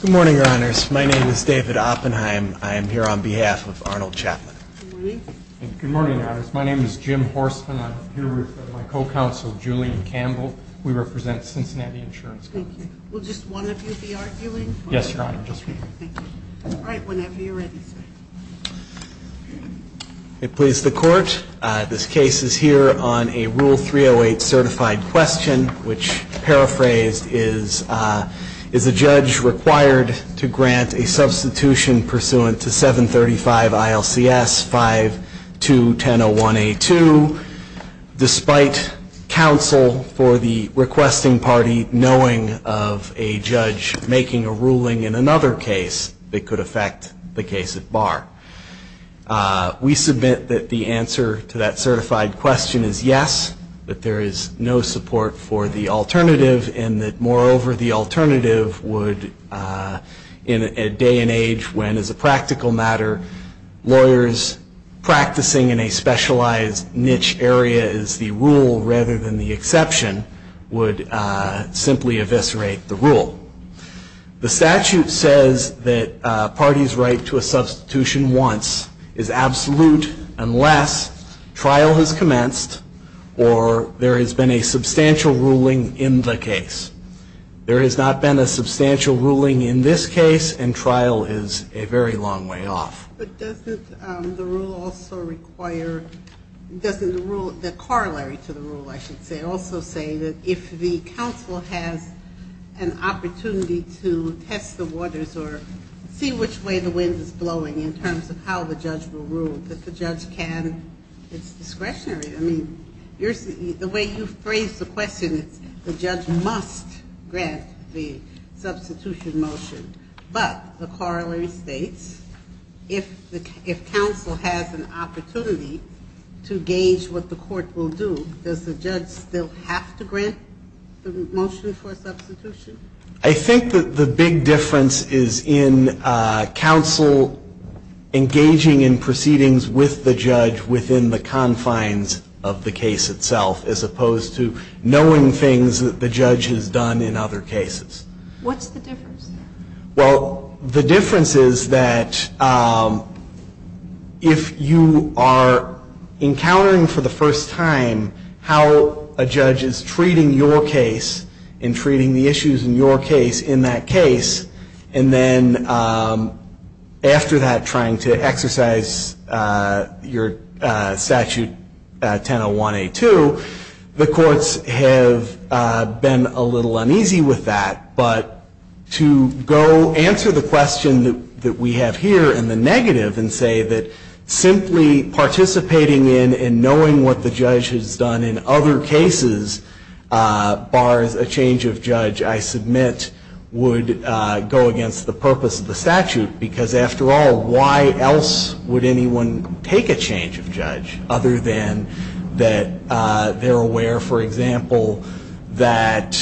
Good morning, Your Honors. My name is David Oppenheim. I am here on behalf of Arnold Chapman. Good morning. Good morning, Your Honors. My name is Jim Horstman. I'm here with my co-counsel Julian Campbell. We represent Cincinnati Insurance Company. I please the Court. This case is here on a Rule 308 certified question, which paraphrased is, is a judge required to grant a substitution pursuant to 735 ILCS 521001A2 despite counsel for the requesting party knowing of a judge making a ruling in another case that could affect the case at bar. We submit that the answer to that certified question is yes, that there is no support for the alternative, and that moreover, the alternative would, in a day and age when as a practical matter, lawyers practicing in a specialized niche area is the rule rather than the exception, would simply eviscerate the rule. The statute says that a party's right to a substitution once is absolute unless trial has commenced or there has been a substantial ruling in the case. There has not been a substantial ruling in this case, and trial is a very long way off. But doesn't the rule also require, doesn't the rule, the corollary to the rule, I should say, also say that if the counsel has an opportunity to test the waters or see which way the wind is blowing in terms of how the judge will rule, that the judge can, it's discretionary. I mean, the way you've phrased the question, it's the judge must grant the substitution motion, but the corollary states if counsel has an opportunity to gauge what the court will do, does the judge still have to grant the motion for substitution? I think that the big difference is in counsel engaging in proceedings with the judge within the confines of the case itself as opposed to knowing things that the judge has done in other cases. What's the difference? Well, the difference is that if you are encountering for the first time how a judge is treating your case and treating the issues in your case in that case, and then after that trying to exercise your statute 1001A2, the courts have been a little uneasy with that. But to go answer the question that we have here in the negative and say that simply participating in and knowing what the judge has done in other cases bars a change of judge, I submit, would go against the purpose of the statute, because after all, why else would anyone take a change of judge other than that they're aware, for example, that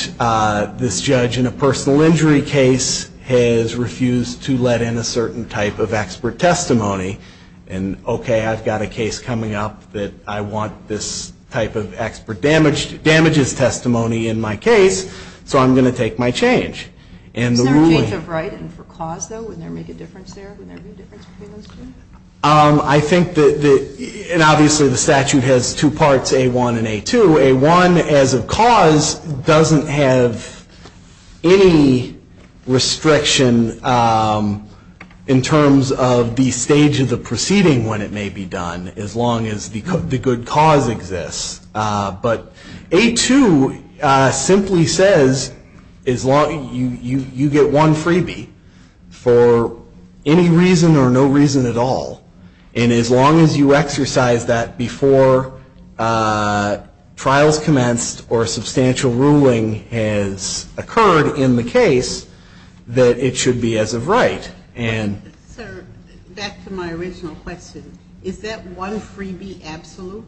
this judge in a personal injury case has refused to let in a certain type of expert testimony, and okay, I've got a case coming up that I want this type of expert damages testimony in my case, so I'm going to take my change. Is there a change of right for cause, though, would there be a difference there? I think that, and obviously the statute has two parts, A1 and A2. A1, as of cause, doesn't have any restriction in terms of the stage of the proceeding when it may be done. As long as the good cause exists. But A2 simply says you get one freebie for any reason or no reason at all, and as long as you exercise that before trials commenced or substantial ruling has occurred in the case, that it should be as of right. Sir, back to my original question. Is that one freebie absolute?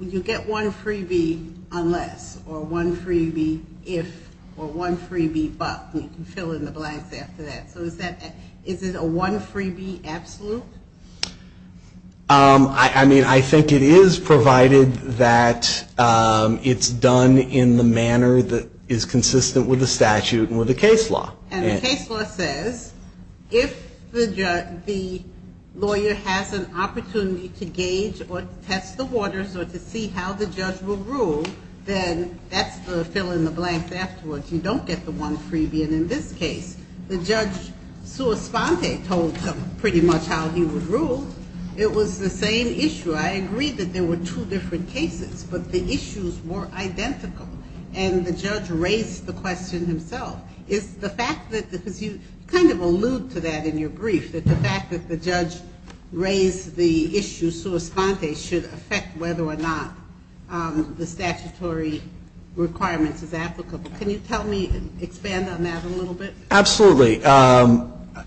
You get one freebie unless or one freebie if or one freebie but, and you can fill in the blanks after that. Is it a one freebie absolute? I mean, I think it is, provided that it's done in the manner that is consistent with the statute and with the case law. And the case law says if the lawyer has an opportunity to gauge or test the waters or to see how the judge will rule, then that's the fill in the blanks afterwards. You don't get the one freebie. And in this case, the judge, sua sponte, told them pretty much how he would rule. It was the same issue. I agree that there were two different cases, but the fact that, because you kind of allude to that in your brief, that the fact that the judge raised the issue sua sponte should affect whether or not the statutory requirements is applicable. Can you tell me, expand on that a little bit? Absolutely.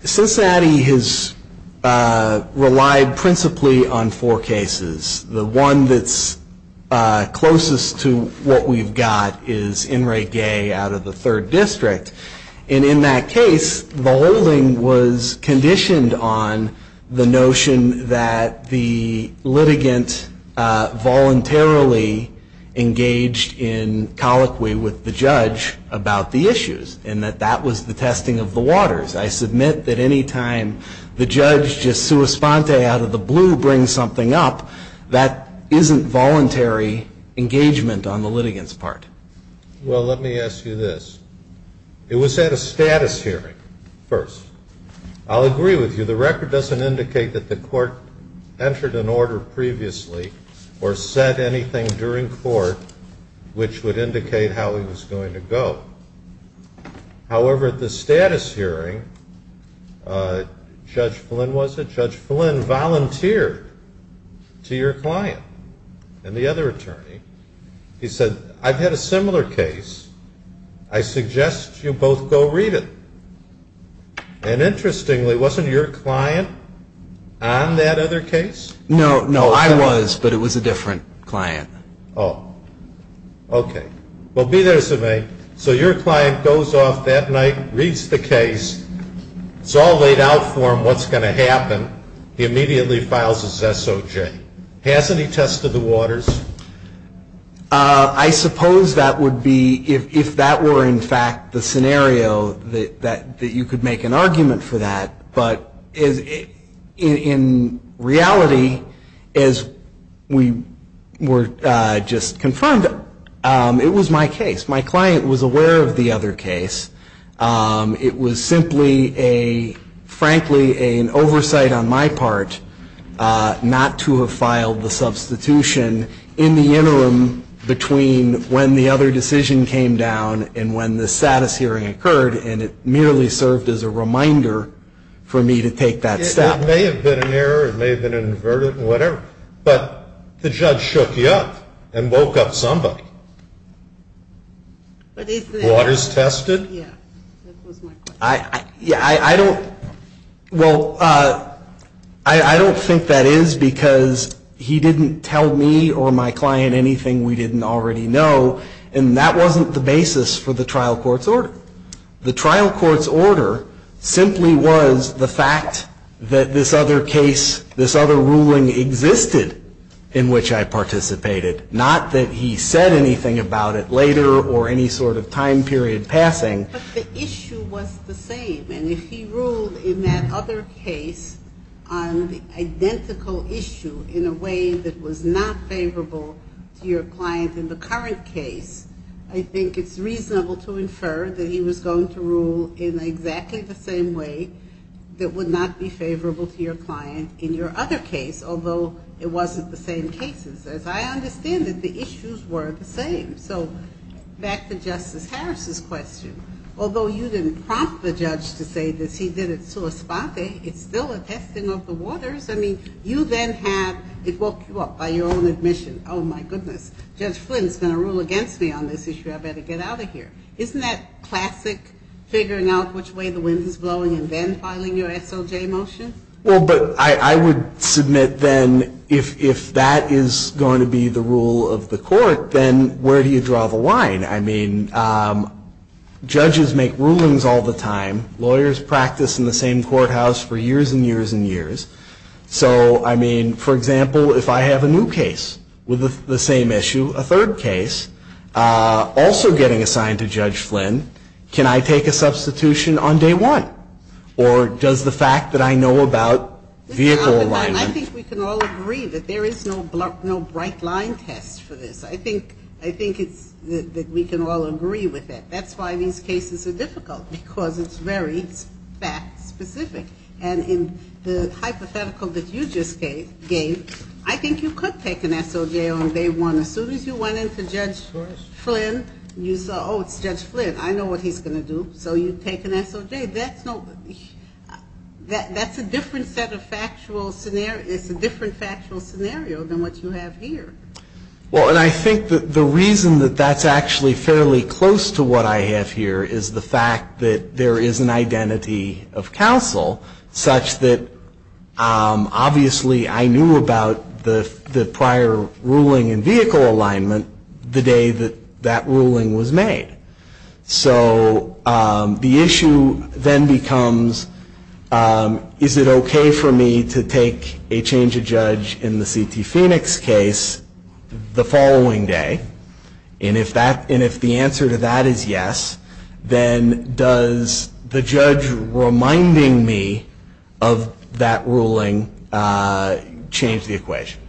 Cincinnati has relied principally on four cases. The one that's closest to what we've got is In re gay out of the third district. And in that case, the holding was conditioned on the notion that the litigant voluntarily engaged in colloquy with the judge about the issues and that that was the testing of the waters. I submit that any time the judge just sua sponte out of the blue brings something up, that isn't voluntary engagement on the litigant's part. Well, let me ask you this. It was at a status hearing first. I'll agree with you. The record doesn't indicate that the court entered an order previously or said anything during court which would indicate how it was going to go. However, at the status hearing, Judge Flynn was it? Judge Flynn volunteered to your client and the other attorney. He said, I'm going to go read it. I've had a similar case. I suggest you both go read it. And interestingly, wasn't your client on that other case? No, no, I was, but it was a different client. Oh. Okay. Well, be there, Sime. So your client goes off that night, reads the case. It's all laid out for him, what's going to happen. He immediately files his SOJ. Hasn't he tested the waters? I suppose that would be if that were, in fact, the scenario that you could make an argument for that. But in reality, as we were just confirmed, it was my case. My client was aware of the other case. It was simply a, frankly, an oversight on my part not to have filed the substitution in the interim between when the other decision came down and when the status hearing occurred. And it merely served as a reminder for me to take that step. It may have been an error. It may have been an inverted, whatever. But the judge shook you up and woke up somebody. But isn't it? Waters tested? Yeah. That was my question. I don't think that is because he didn't tell me or my client anything we didn't already know. And that wasn't the basis for the trial court's order. The trial court's order simply was the fact that this other case, this other ruling existed in which I participated. Not that he said anything about it later or any sort of time period passing. But the issue was the same. And if he ruled in that other case on the identical issue in a way that was not favorable to your client in the current case, I think it's reasonable to infer that he was going to rule in exactly the same way that would not be favorable to your client in your other case, although it wasn't the same cases. As I understand it, the issues were the same. So back to Justice Harris's question. Although you didn't prompt the judge to say that he did it sua spate, it's still a testing of the waters. I mean, you then have, it woke you up by your own admission. Oh, my goodness. Judge Flynn is going to rule against me on this issue. I better get out of here. Isn't that classic figuring out which way the wind is blowing and then filing your SOJ motion? Well, but I would submit then if that is going to be the rule of the court, then where do you draw the line? I mean, judges make rulings all the time. Lawyers practice in the same courthouse for years and years and years. So, I mean, for example, if I have a new case with the same issue, a third case, also getting assigned to Judge Flynn, can I take a substitution on day one? Or does the fact that I know about vehicle alignment... That's why these cases are difficult, because it's very fact-specific. And in the hypothetical that you just gave, I think you could take an SOJ on day one. As soon as you went in to Judge Flynn, you saw, oh, it's Judge Flynn. I know what he's going to do. So you take an SOJ. That's a different set of factual scenario. It's a different factual scenario than what you have here. But that's actually fairly close to what I have here, is the fact that there is an identity of counsel such that, obviously, I knew about the prior ruling in vehicle alignment the day that that ruling was made. So the issue then becomes, is it okay for me to take a change of judge in the C.T. Phoenix case the following day? And if the answer to that is yes, then does the judge reminding me of that ruling change the equation?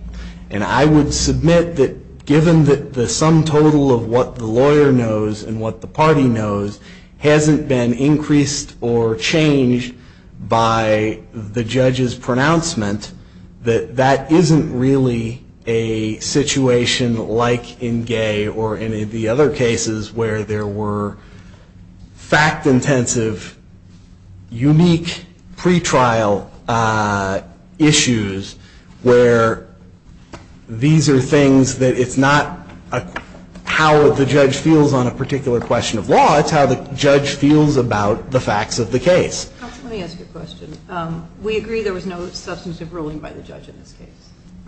And I would submit that given the sum total of what the lawyer knows and what the party knows hasn't been increased or changed by the judge's pronouncement, that that isn't really a situation like in Gay or any of the other cases where there were fact-intensive, unique pretrial issues where these are things that it's not how the judge feels on a particular question of law. It's how the judge feels about the facts of the case. Let me ask you a question. We agree there was no substantive ruling by the judge in this case.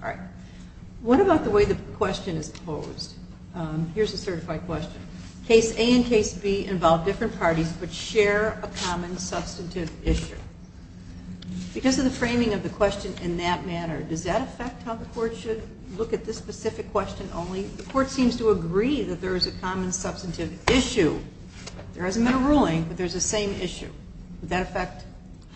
All right. What about the way the question is posed? Here's a certified question. Case A and case B involve different parties but share a common substantive issue. Because of the framing of the question in that manner, does that affect how the court should look at this specific question only? The court seems to agree that there is a common substantive issue. There hasn't been a ruling but there's a same issue. Would that affect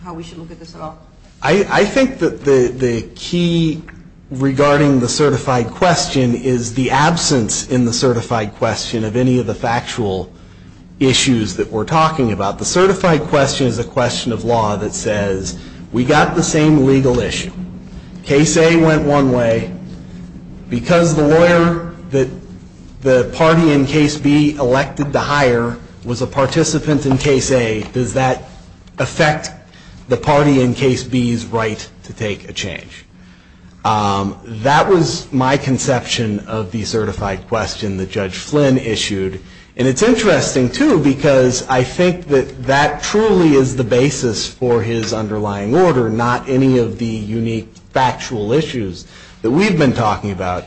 how we should look at this at all? I think that the key regarding the certified question is the absence in the certified question of any of the factual issues that we're talking about. The certified question is a question of law that says we got the same legal issue. Case A went one way. Because the lawyer that the party in case B elected to hire was a participant in case A, does that affect the party in case B's right to take a change? That was my conception of the certified question that Judge Flynn issued. And it's interesting too because I think that that truly is the basis for his underlying order, not any of the unique factual issues that we've been talking about.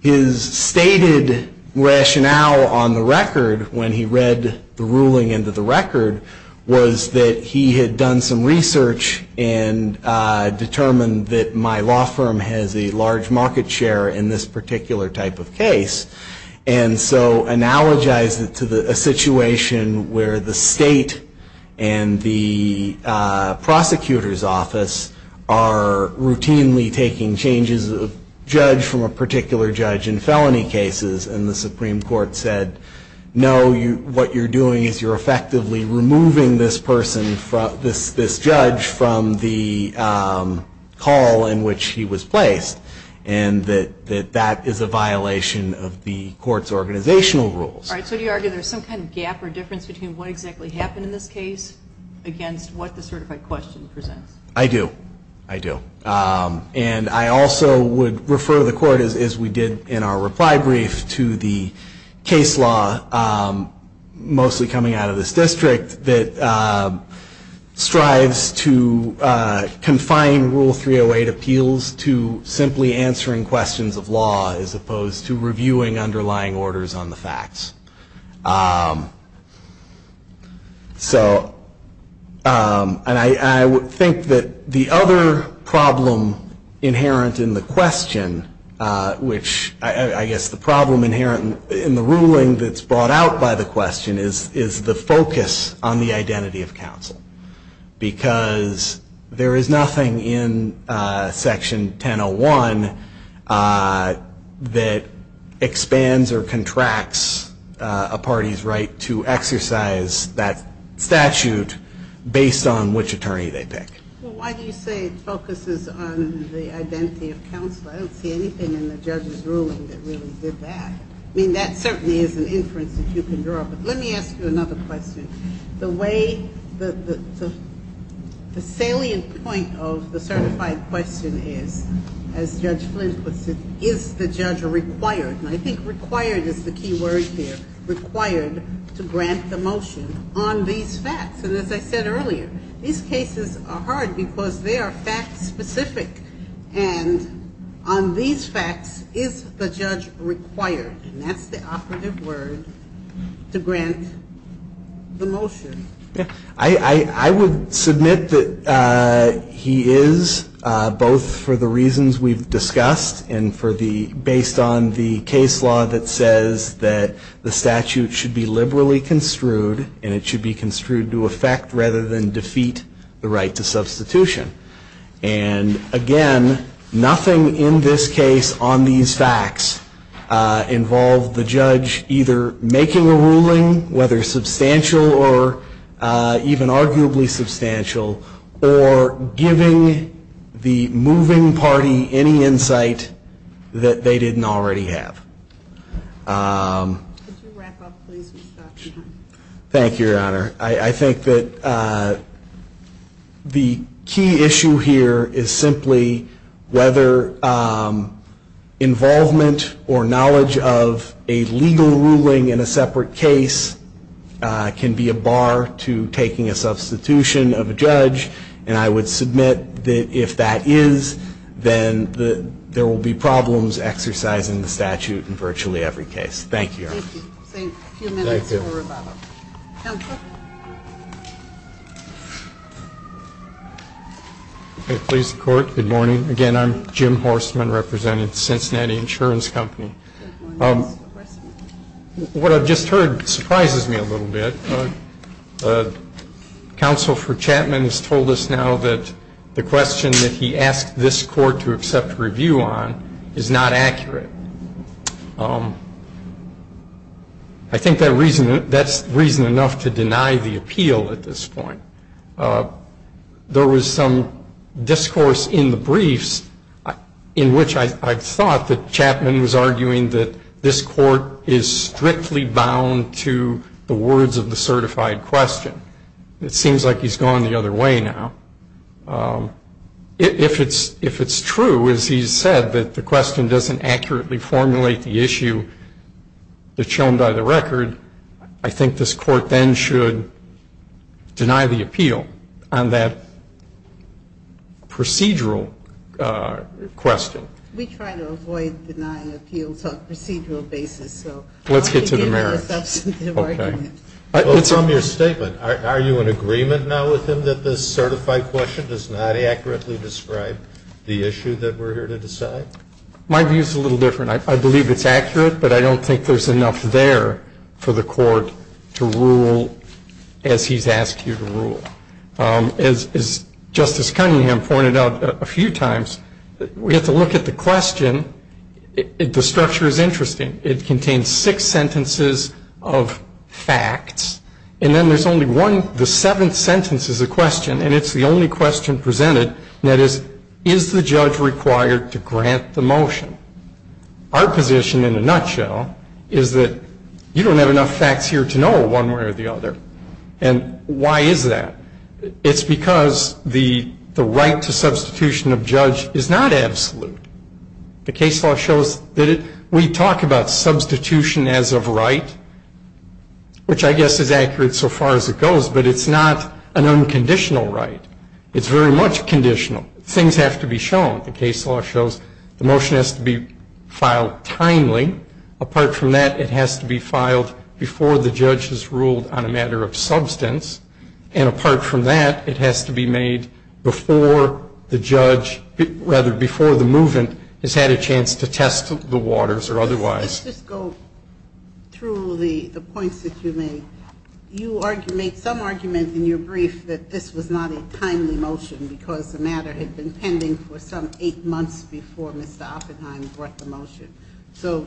His stated rationale on the record when he read the ruling into the record was that he had done some research and determined that my law firm has a large market share in this particular type of case. And so analogize it to a situation where the state and the prosecutor's office are routinely taking changes of judge from a particular judge in felony cases and the Supreme Court said no, what you're doing is you're effectively removing this person, this judge from the call in which he was placed. And that is a violation of the court's organizational rules. All right, so do you argue there's some kind of gap or difference between what exactly happened in this case against what the certified question presents? I do. I do. And I also would refer the court as we did in our reply brief to the case law mostly coming out of this district that strives to confine Rule 308 appeals to simply answering questions of law as opposed to reviewing underlying orders on the facts. So and I would think that the other problem inherent in the question, which I guess the ruling that's brought out by the question is the focus on the identity of counsel. Because there is nothing in Section 1001 that expands or contracts a party's right to exercise that statute based on which attorney they pick. Well, why do you say it focuses on the identity of counsel? I don't see anything in the reference that you can draw. But let me ask you another question. The way the salient point of the certified question is, as Judge Flint puts it, is the judge required, and I think required is the key word here, required to grant the motion on these facts. And as I said earlier, these cases are hard because they are fact specific. And on these facts, is the judge required? And that's the operative word, to grant the motion. I would submit that he is, both for the reasons we've discussed and based on the case law that says that the statute should be liberally construed and it should be construed to effect rather than defeat the right to substitution. And again, nothing in this case on these facts involved the judge either making a ruling, whether substantial or even arguably substantial, or giving the moving party any insight that they didn't already have. Could you wrap up, please? We've got some time. Thank you, Your Honor. I think that the key issue here is simply whether involvement or knowledge of a legal ruling in a separate case can be a bar to taking a substitution of a judge. And I would submit that if that is, then there will be problems exercising the statute in virtually I'm Jim Horstman, representing Cincinnati Insurance Company. What I've just heard surprises me a little bit. Counsel for Chapman has told us now that the question that he asked this court to accept a review on is not accurate. I think that's reason enough to deny the appeal at this point. There was some discourse in the briefs in which I thought that Chapman was arguing that this court is strictly bound to the words of the certified question. It seems like he's gone the other way now. If it's true, as he said, that the question doesn't accurately formulate the issue that's shown by the record, I think this court then should deny the appeal on that procedural question. We try to avoid denying appeals on a procedural basis. Let's get to the merits. Well, from your statement, are you in agreement now with him that this certified question does not accurately describe the issue that we're here to decide? My view is a little different. I believe it's accurate, but I don't think there's enough there for the court to rule as he's asked you to rule. As Justice Cunningham pointed out a few times, we have to look at the question. The structure is interesting. It contains six sentences of facts, and then there's only one. The seventh sentence is a question, and it's the only question presented, and that is, is the judge required to grant the motion? Our position, in a nutshell, is that you don't have enough facts here to know one way or the other. And why is that? It's because the right to substitution of judge is not absolute. The case law shows that we talk about substitution as of right, which I guess is accurate so far as it goes, but it's not an unconditional right. It's very much conditional. Things have to be shown. The case law shows the motion has to be filed timely. Apart from that, it has to be filed before the judge has ruled on a matter of substance. And apart from that, it has to be made before the judge, rather, before the movement has had a chance to test the waters or otherwise. Let's just go through the points that you made. You made some argument in your brief that this was not a timely motion because the matter had been pending for some eight months before Mr. Oppenheim brought the motion. So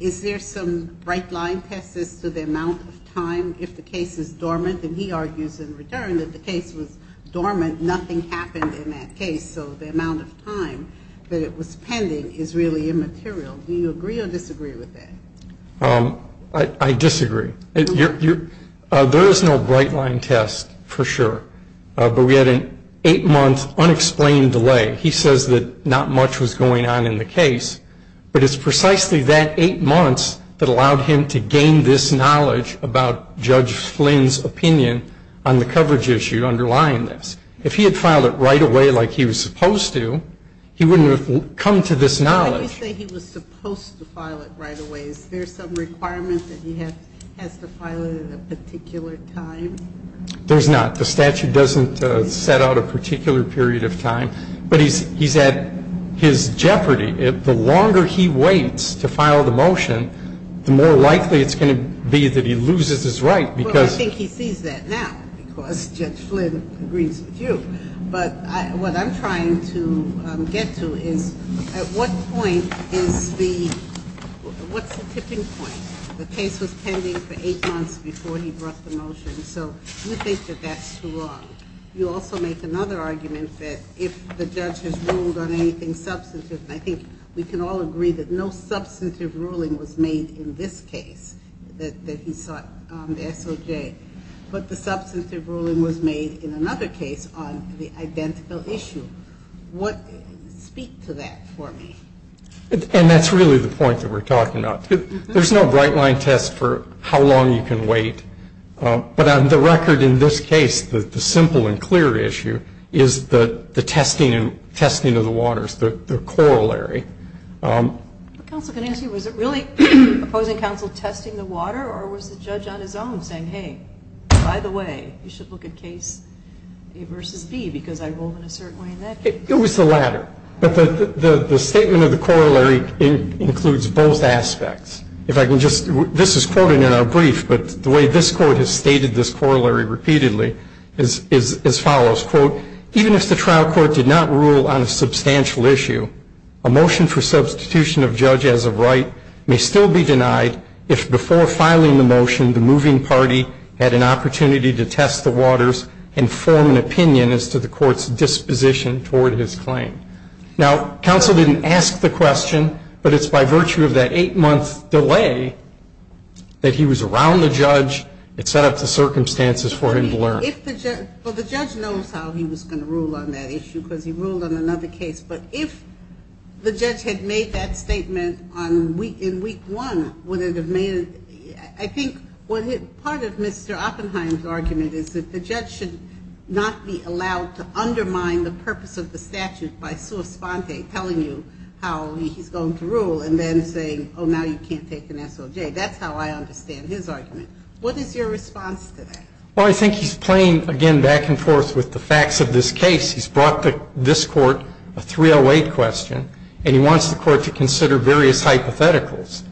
is there some bright line test as to the amount of time if the case is dormant? And he argues in return that the case was dormant. Nothing happened in that case. So the amount of time that it was pending is really immaterial. Do you agree or disagree with that? I disagree. There is no bright line test, for sure. But we had an eight-month unexplained delay. He says that not much was going on in the case, but it's precisely that eight months that allowed him to gain this knowledge about Judge Flynn's opinion on the coverage issue underlying this. If he had filed it right away like he was supposed to, he wouldn't have come to this knowledge. When you say he was supposed to file it right away, is there some requirement that he has to file it at a particular time? There's not. The statute doesn't set out a particular period of time. But he's at his jeopardy. The longer he waits to file the motion, the more likely it's going to be that he loses his right because he's Well, I think he sees that now because Judge Flynn agrees with you. But what I'm trying to get to is at what point is the – what's the tipping point? The case was pending for eight months before he brought the motion. So you think that that's too long. You also make another argument that if the judge has ruled on anything substantive, and I think we can all agree that no substantive ruling was made in this case that he sought on the SOJ, but the substantive ruling was made in another case on the identical issue. Speak to that for me. And that's really the point that we're talking about. There's no bright-line test for how long you can wait. But on the record in this case, the simple and clear issue is the testing of the waters, the corollary. Counsel, can I ask you, was it really opposing counsel testing the water or was the judge on his own saying, hey, by the way, you should look at case A versus B because I ruled in a certain way in that case? It was the latter. But the statement of the corollary includes both aspects. This is quoted in our brief, but the way this court has stated this corollary repeatedly is as follows. Quote, even if the trial court did not rule on a substantial issue, a motion for substitution of judge as of right may still be denied if before filing the motion, the moving party had an opportunity to test the waters and form an opinion as to the court's disposition toward his claim. Now, counsel didn't ask the question, but it's by virtue of that eight-month delay that he was around the judge. It set up the circumstances for him to learn. Well, the judge knows how he was going to rule on that issue because he ruled on another case. But if the judge had made that statement in week one, would it have made it? I think part of Mr. Oppenheim's argument is that the judge should not be allowed to undermine the purpose of the statute by sua sponte, telling you how he's going to rule, and then saying, oh, now you can't take an SOJ. That's how I understand his argument. What is your response to that? Well, I think he's playing, again, back and forth with the facts of this case. He's brought to this court a 308 question, and he wants the court to consider various hypotheticals.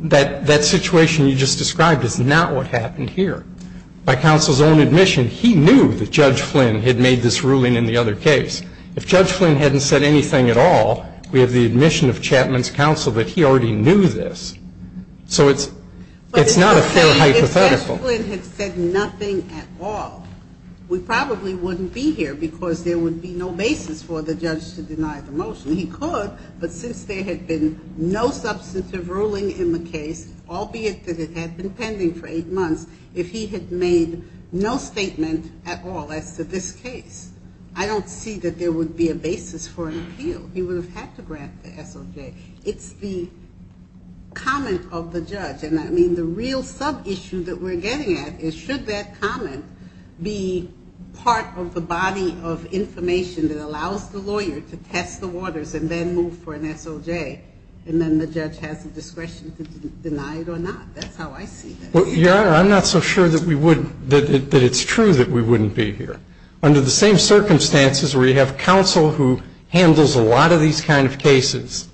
That situation you just described is not what happened here. By counsel's own admission, he knew that Judge Flynn had made this ruling in the other case. If Judge Flynn hadn't said anything at all, we have the admission of Chapman's counsel that he already knew this. So it's not a fair hypothetical. If Judge Flynn had said nothing at all, we probably wouldn't be here because there would be no basis for the judge to deny the motion. He could, but since there had been no substantive ruling in the case, albeit that it had been pending for eight months, if he had made no statement at all as to this case. I don't see that there would be a basis for an appeal. He would have had to grant the SOJ. It's the comment of the judge. And, I mean, the real sub-issue that we're getting at is should that comment be part of the body of information that allows the lawyer to test the waters and then move for an SOJ, and then the judge has the discretion to deny it or not. That's how I see it. Your Honor, I'm not so sure that we would – that it's true that we wouldn't be here. Under the same circumstances where you have counsel who handles a lot of these kind of cases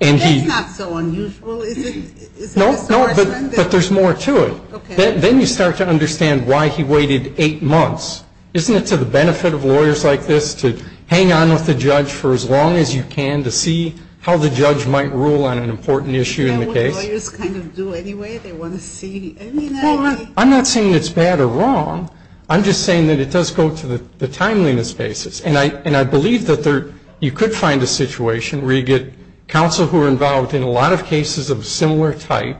and he – That's not so unusual, is it? No, no, but there's more to it. Okay. Then you start to understand why he waited eight months. Isn't it to the benefit of lawyers like this to hang on with the judge for as long as you can, to see how the judge might rule on an important issue in the case? That's what lawyers kind of do anyway. They want to see – I mean, I – Well, I'm not saying it's bad or wrong. I'm just saying that it does go to the timeliness basis. And I believe that there – you could find a situation where you get counsel who are involved in a lot of cases of a similar type,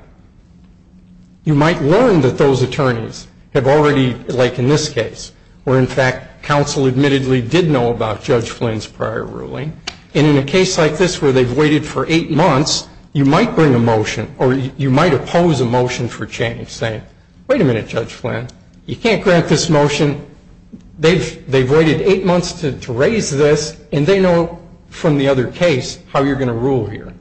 you might learn that those attorneys have already, like in this case, where in fact counsel admittedly did know about Judge Flynn's prior ruling, and in a case like this where they've waited for eight months, you might bring a motion or you might oppose a motion for change saying, wait a minute, Judge Flynn, you can't grant this motion. They've waited eight months to raise this, and they know from the other case how you're going to rule here.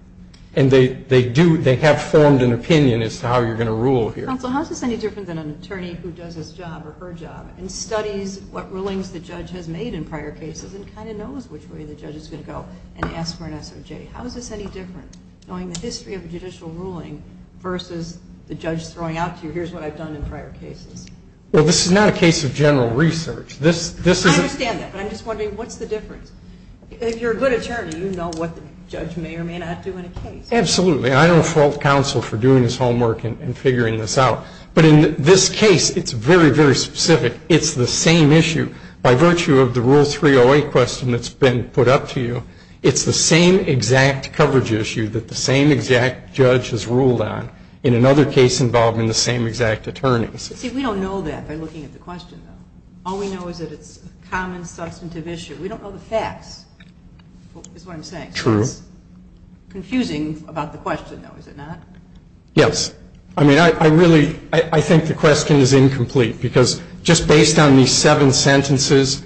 And they do – they have formed an opinion as to how you're going to rule here. Counsel, how is this any different than an attorney who does his job or her job and studies what rulings the judge has made in prior cases and kind of knows which way the judge is going to go and asks for an SOJ? How is this any different, knowing the history of a judicial ruling versus the judge throwing out to you, here's what I've done in prior cases? Well, this is not a case of general research. I understand that, but I'm just wondering, what's the difference? If you're a good attorney, you know what the judge may or may not do in a case. Absolutely. I don't fault counsel for doing his homework and figuring this out. But in this case, it's very, very specific. It's the same issue. By virtue of the Rule 308 question that's been put up to you, it's the same exact coverage issue that the same exact judge has ruled on in another case involving the same exact attorneys. See, we don't know that by looking at the question, though. All we know is that it's a common, substantive issue. We don't know the facts, is what I'm saying. True. It's confusing about the question, though, is it not? Yes. I mean, I really – I think the question is incomplete, because just based on these seven sentences,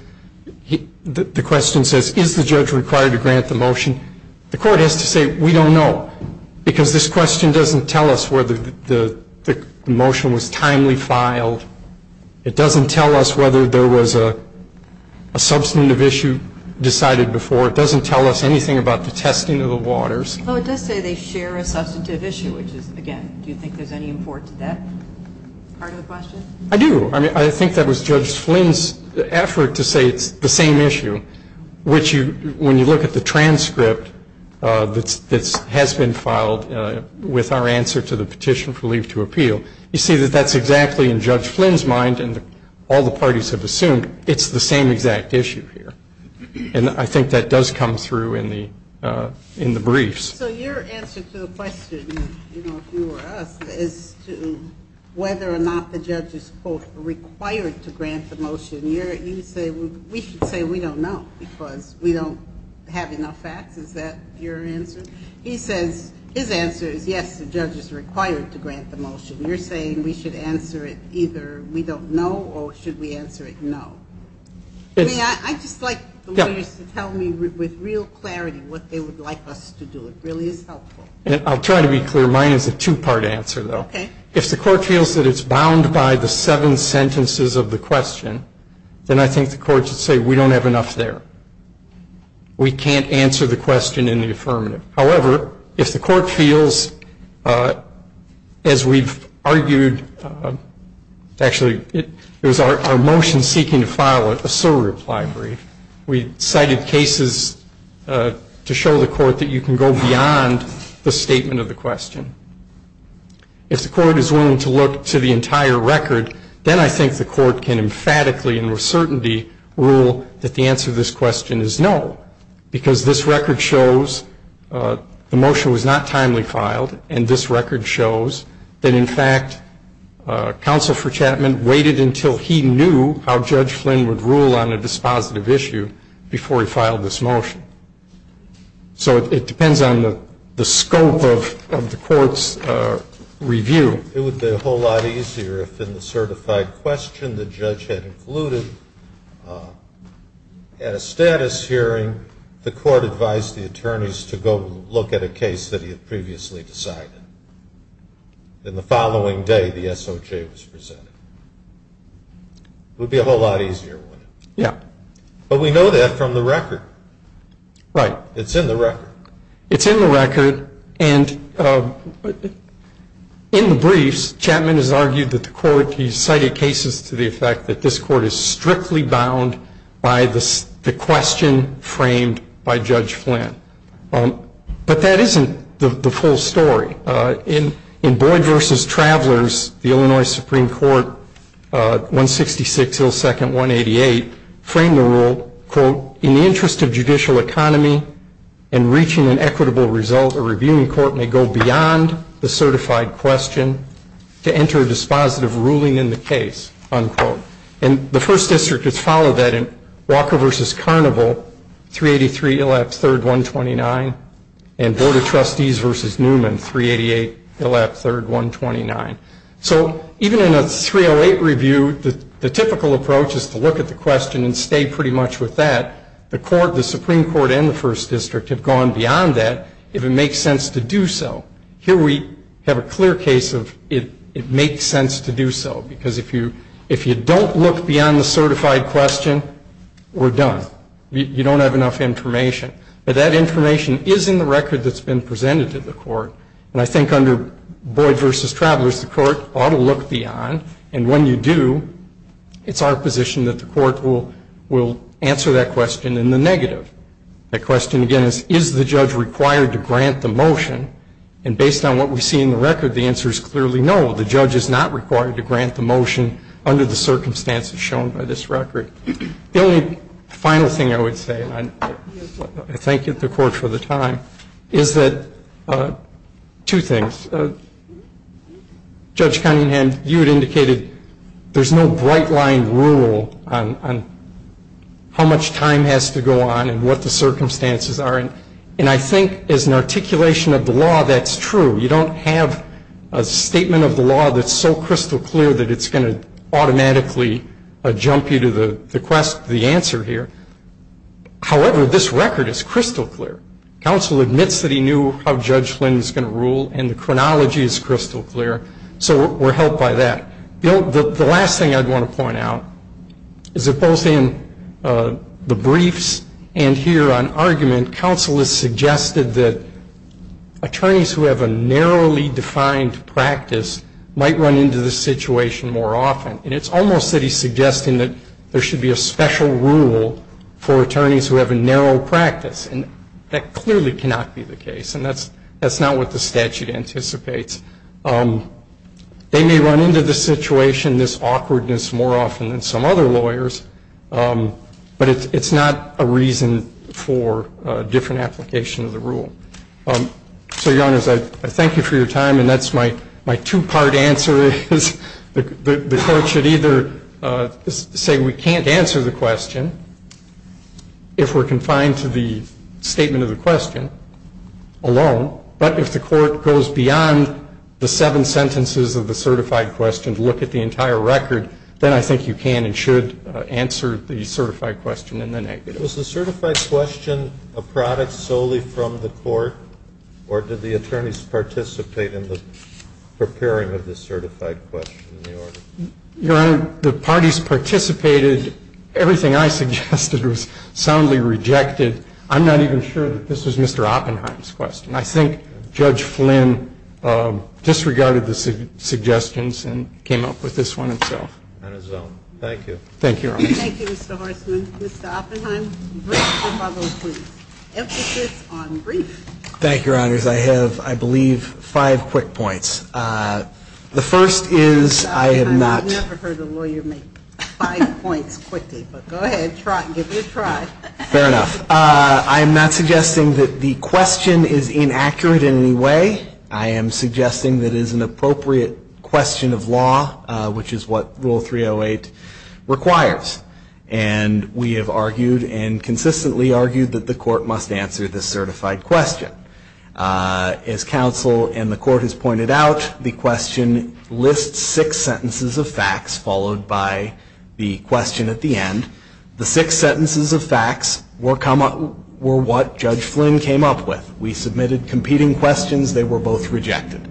the question says, is the judge required to grant the motion? The court has to say, we don't know, because this question doesn't tell us whether the motion was timely filed. It doesn't tell us whether there was a substantive issue decided before. It doesn't tell us anything about the testing of the waters. Well, it does say they share a substantive issue, which is, again, do you think there's any import to that part of the question? I do. I mean, I think that was Judge Flynn's effort to say it's the same issue, which when you look at the transcript that has been filed with our answer to the petition for leave to appeal, you see that that's exactly, in Judge Flynn's mind and all the parties have assumed, it's the same exact issue here. And I think that does come through in the briefs. So your answer to the question, you know, if you were us, as to whether or not the judge is, quote, required to grant the motion, you say we should say we don't know because we don't have enough facts. Is that your answer? He says his answer is, yes, the judge is required to grant the motion. You're saying we should answer it either we don't know or should we answer it no. I just like the lawyers to tell me with real clarity what they would like us to do. It really is helpful. I'll try to be clear. Mine is a two-part answer, though. Okay. If the court feels that it's bound by the seven sentences of the question, then I think the court should say we don't have enough there. We can't answer the question in the affirmative. However, if the court feels, as we've argued, actually, it was our motion seeking to file a surreply brief, we cited cases to show the court that you can go beyond the statement of the question. If the court is willing to look to the entire record, then I think the court can emphatically and with certainty rule that the answer to this question is no because this record shows the motion was not timely filed, and this record shows that, in fact, Counsel for Chapman waited until he knew how Judge Flynn would rule on a dispositive issue before he filed this motion. So it depends on the scope of the court's review. It would be a whole lot easier if, in the certified question the judge had included at a status hearing, the court advised the attorneys to go look at a case that he had previously decided. Then the following day, the SOJ was presented. It would be a whole lot easier, wouldn't it? Yeah. But we know that from the record. Right. It's in the record. It's in the record. And in the briefs, Chapman has argued that the court, he's cited cases to the effect that this court is strictly bound by the question framed by Judge Flynn. But that isn't the full story. In Boyd v. Travelers, the Illinois Supreme Court, 166 ill second 188, framed the rule, quote, in the interest of judicial economy and reaching an equitable result, a reviewing court may go beyond the certified question to enter a dispositive ruling in the case, unquote. And the First District has followed that in Walker v. Carnival, 383 ill at third 129, and Board of Trustees v. Newman, 388 ill at third 129. So even in a 308 review, the typical approach is to look at the question and stay pretty much with that. The Supreme Court and the First District have gone beyond that if it makes sense to do so. Here we have a clear case of it makes sense to do so, because if you don't look beyond the certified question, we're done. You don't have enough information. But that information is in the record that's been presented to the court. And I think under Boyd v. Travelers, the court ought to look beyond. And when you do, it's our position that the court will answer that question in the negative. That question, again, is, is the judge required to grant the motion? And based on what we see in the record, the answer is clearly no. The judge is not required to grant the motion under the circumstances shown by this record. The only final thing I would say, and I thank the Court for the time, is that two things. Judge Cunningham, you had indicated there's no bright-line rule on how much time has to go on and what the circumstances are. And I think as an articulation of the law, that's true. You don't have a statement of the law that's so crystal clear that it's going to automatically jump you to the quest for the answer here. However, this record is crystal clear. Counsel admits that he knew how Judge Flynn was going to rule, and the chronology is crystal clear. So we're helped by that. The last thing I'd want to point out is that both in the briefs and here on argument, counsel has suggested that attorneys who have a narrowly defined practice might run into this situation more often. And it's almost that he's suggesting that there should be a special rule for attorneys who have a narrow practice, and that clearly cannot be the case. And that's not what the statute anticipates. They may run into the situation, this awkwardness, more often than some other lawyers, but it's not a reason for a different application of the rule. So, Your Honors, I thank you for your time, and that's my two-part answer. The court should either say we can't answer the question if we're confined to the statement of the question alone, but if the court goes beyond the seven sentences of the certified question to look at the entire record, then I think you can and should answer the certified question in the negative. Was the certified question a product solely from the court, or did the attorneys participate in the preparing of the certified question in the order? Your Honor, the parties participated. Everything I suggested was soundly rejected. I'm not even sure that this was Mr. Oppenheim's question. I think Judge Flynn disregarded the suggestions and came up with this one himself. And his own. Thank you. Thank you, Your Honors. Thank you, Mr. Horstman. Mr. Oppenheim, the brief. Emphasis on brief. Thank you, Your Honors. I have, I believe, five quick points. The first is I have not. I've never heard a lawyer make five points quickly, but go ahead, give it a try. Fair enough. I am not suggesting that the question is inaccurate in any way. I am suggesting that it is an appropriate question of law, which is what Rule 308 requires. And we have argued and consistently argued that the court must answer this certified question. As counsel and the court has pointed out, the question lists six sentences of facts, followed by the question at the end. The six sentences of facts were what Judge Flynn came up with. We submitted competing questions. They were both rejected.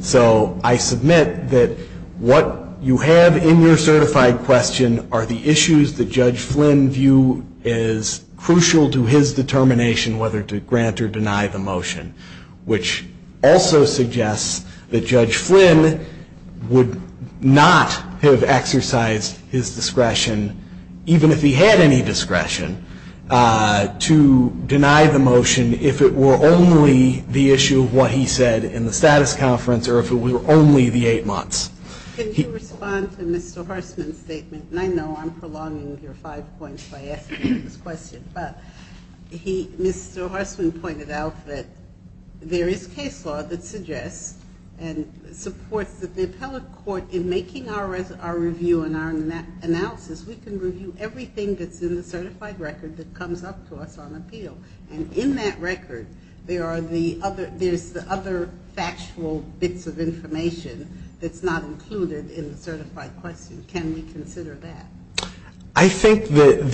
So I submit that what you have in your certified question are the issues that Judge Flynn view is crucial to his determination whether to grant or deny the motion, which also suggests that Judge Flynn would not have exercised his discretion, even if he had any discretion, to deny the motion if it were only the issue of what he said in the status conference or if it were only the eight months. Can you respond to Mr. Horstman's statement? And I know I'm prolonging your five points by asking this question, but Mr. Horstman pointed out that there is case law that suggests and supports that the appellate court in making our review and our analysis, we can review everything that's in the certified record that comes up to us on appeal. And in that record, there's the other factual bits of information that's not included in the certified question. Can we consider that? I think that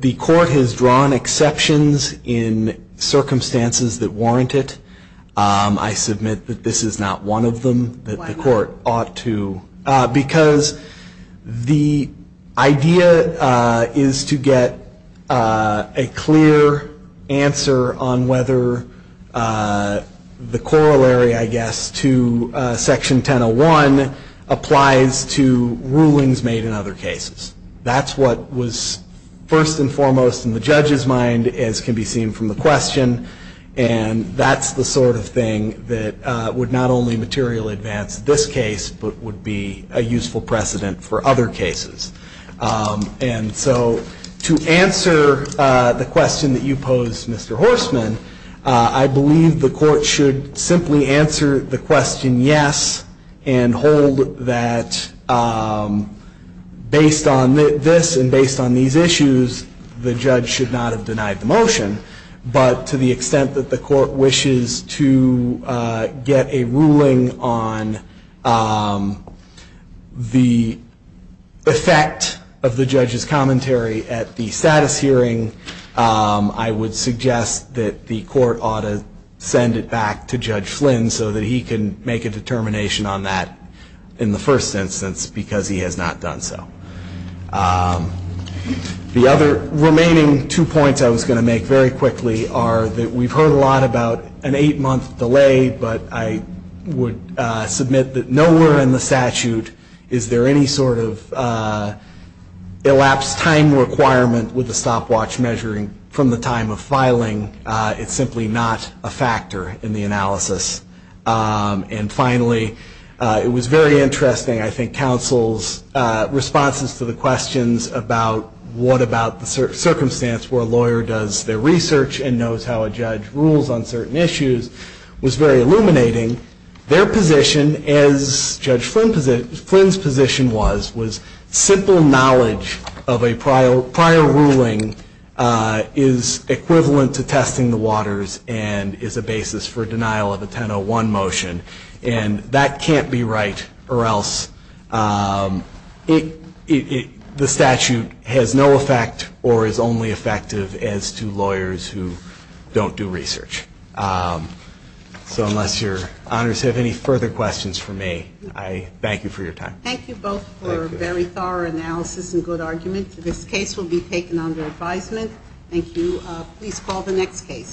the court has drawn exceptions in circumstances that warrant it. I submit that this is not one of them that the court ought to. Why not? Because the idea is to get a clear answer on whether the corollary, I guess, to Section 1001 applies to rulings made in other cases. That's what was first and foremost in the judge's mind, as can be seen from the question, and that's the sort of thing that would not only materially advance this case, but would be a useful precedent for other cases. And so to answer the question that you posed, Mr. Horstman, I believe the court should simply answer the question yes and hold that based on this and based on these issues, the judge should not have denied the motion, but to the extent that the court wishes to get a ruling on the effect of the judge's commentary at the status hearing, I would suggest that the court ought to send it back to Judge Flynn so that he can make a determination on that in the first instance because he has not done so. The other remaining two points I was going to make very quickly are that we've heard a lot about an eight-month delay, but I would submit that nowhere in the statute is there any sort of elapsed time requirement with the stopwatch measuring from the time of filing. It's simply not a factor in the analysis. And finally, it was very interesting, I think, counsel's responses to the questions about what about the circumstance where a lawyer does their research and knows how a judge rules on certain issues was very illuminating. Their position, as Judge Flynn's position was, was simple knowledge of a prior ruling is equivalent to testing the waters and is a basis for denial of a 1001 motion. And that can't be right or else the statute has no effect or is only effective as to lawyers who don't do research. So unless your honors have any further questions for me, I thank you for your time. Thank you both for a very thorough analysis and good argument. This case will be taken under advisement. Thank you. Please call the next case.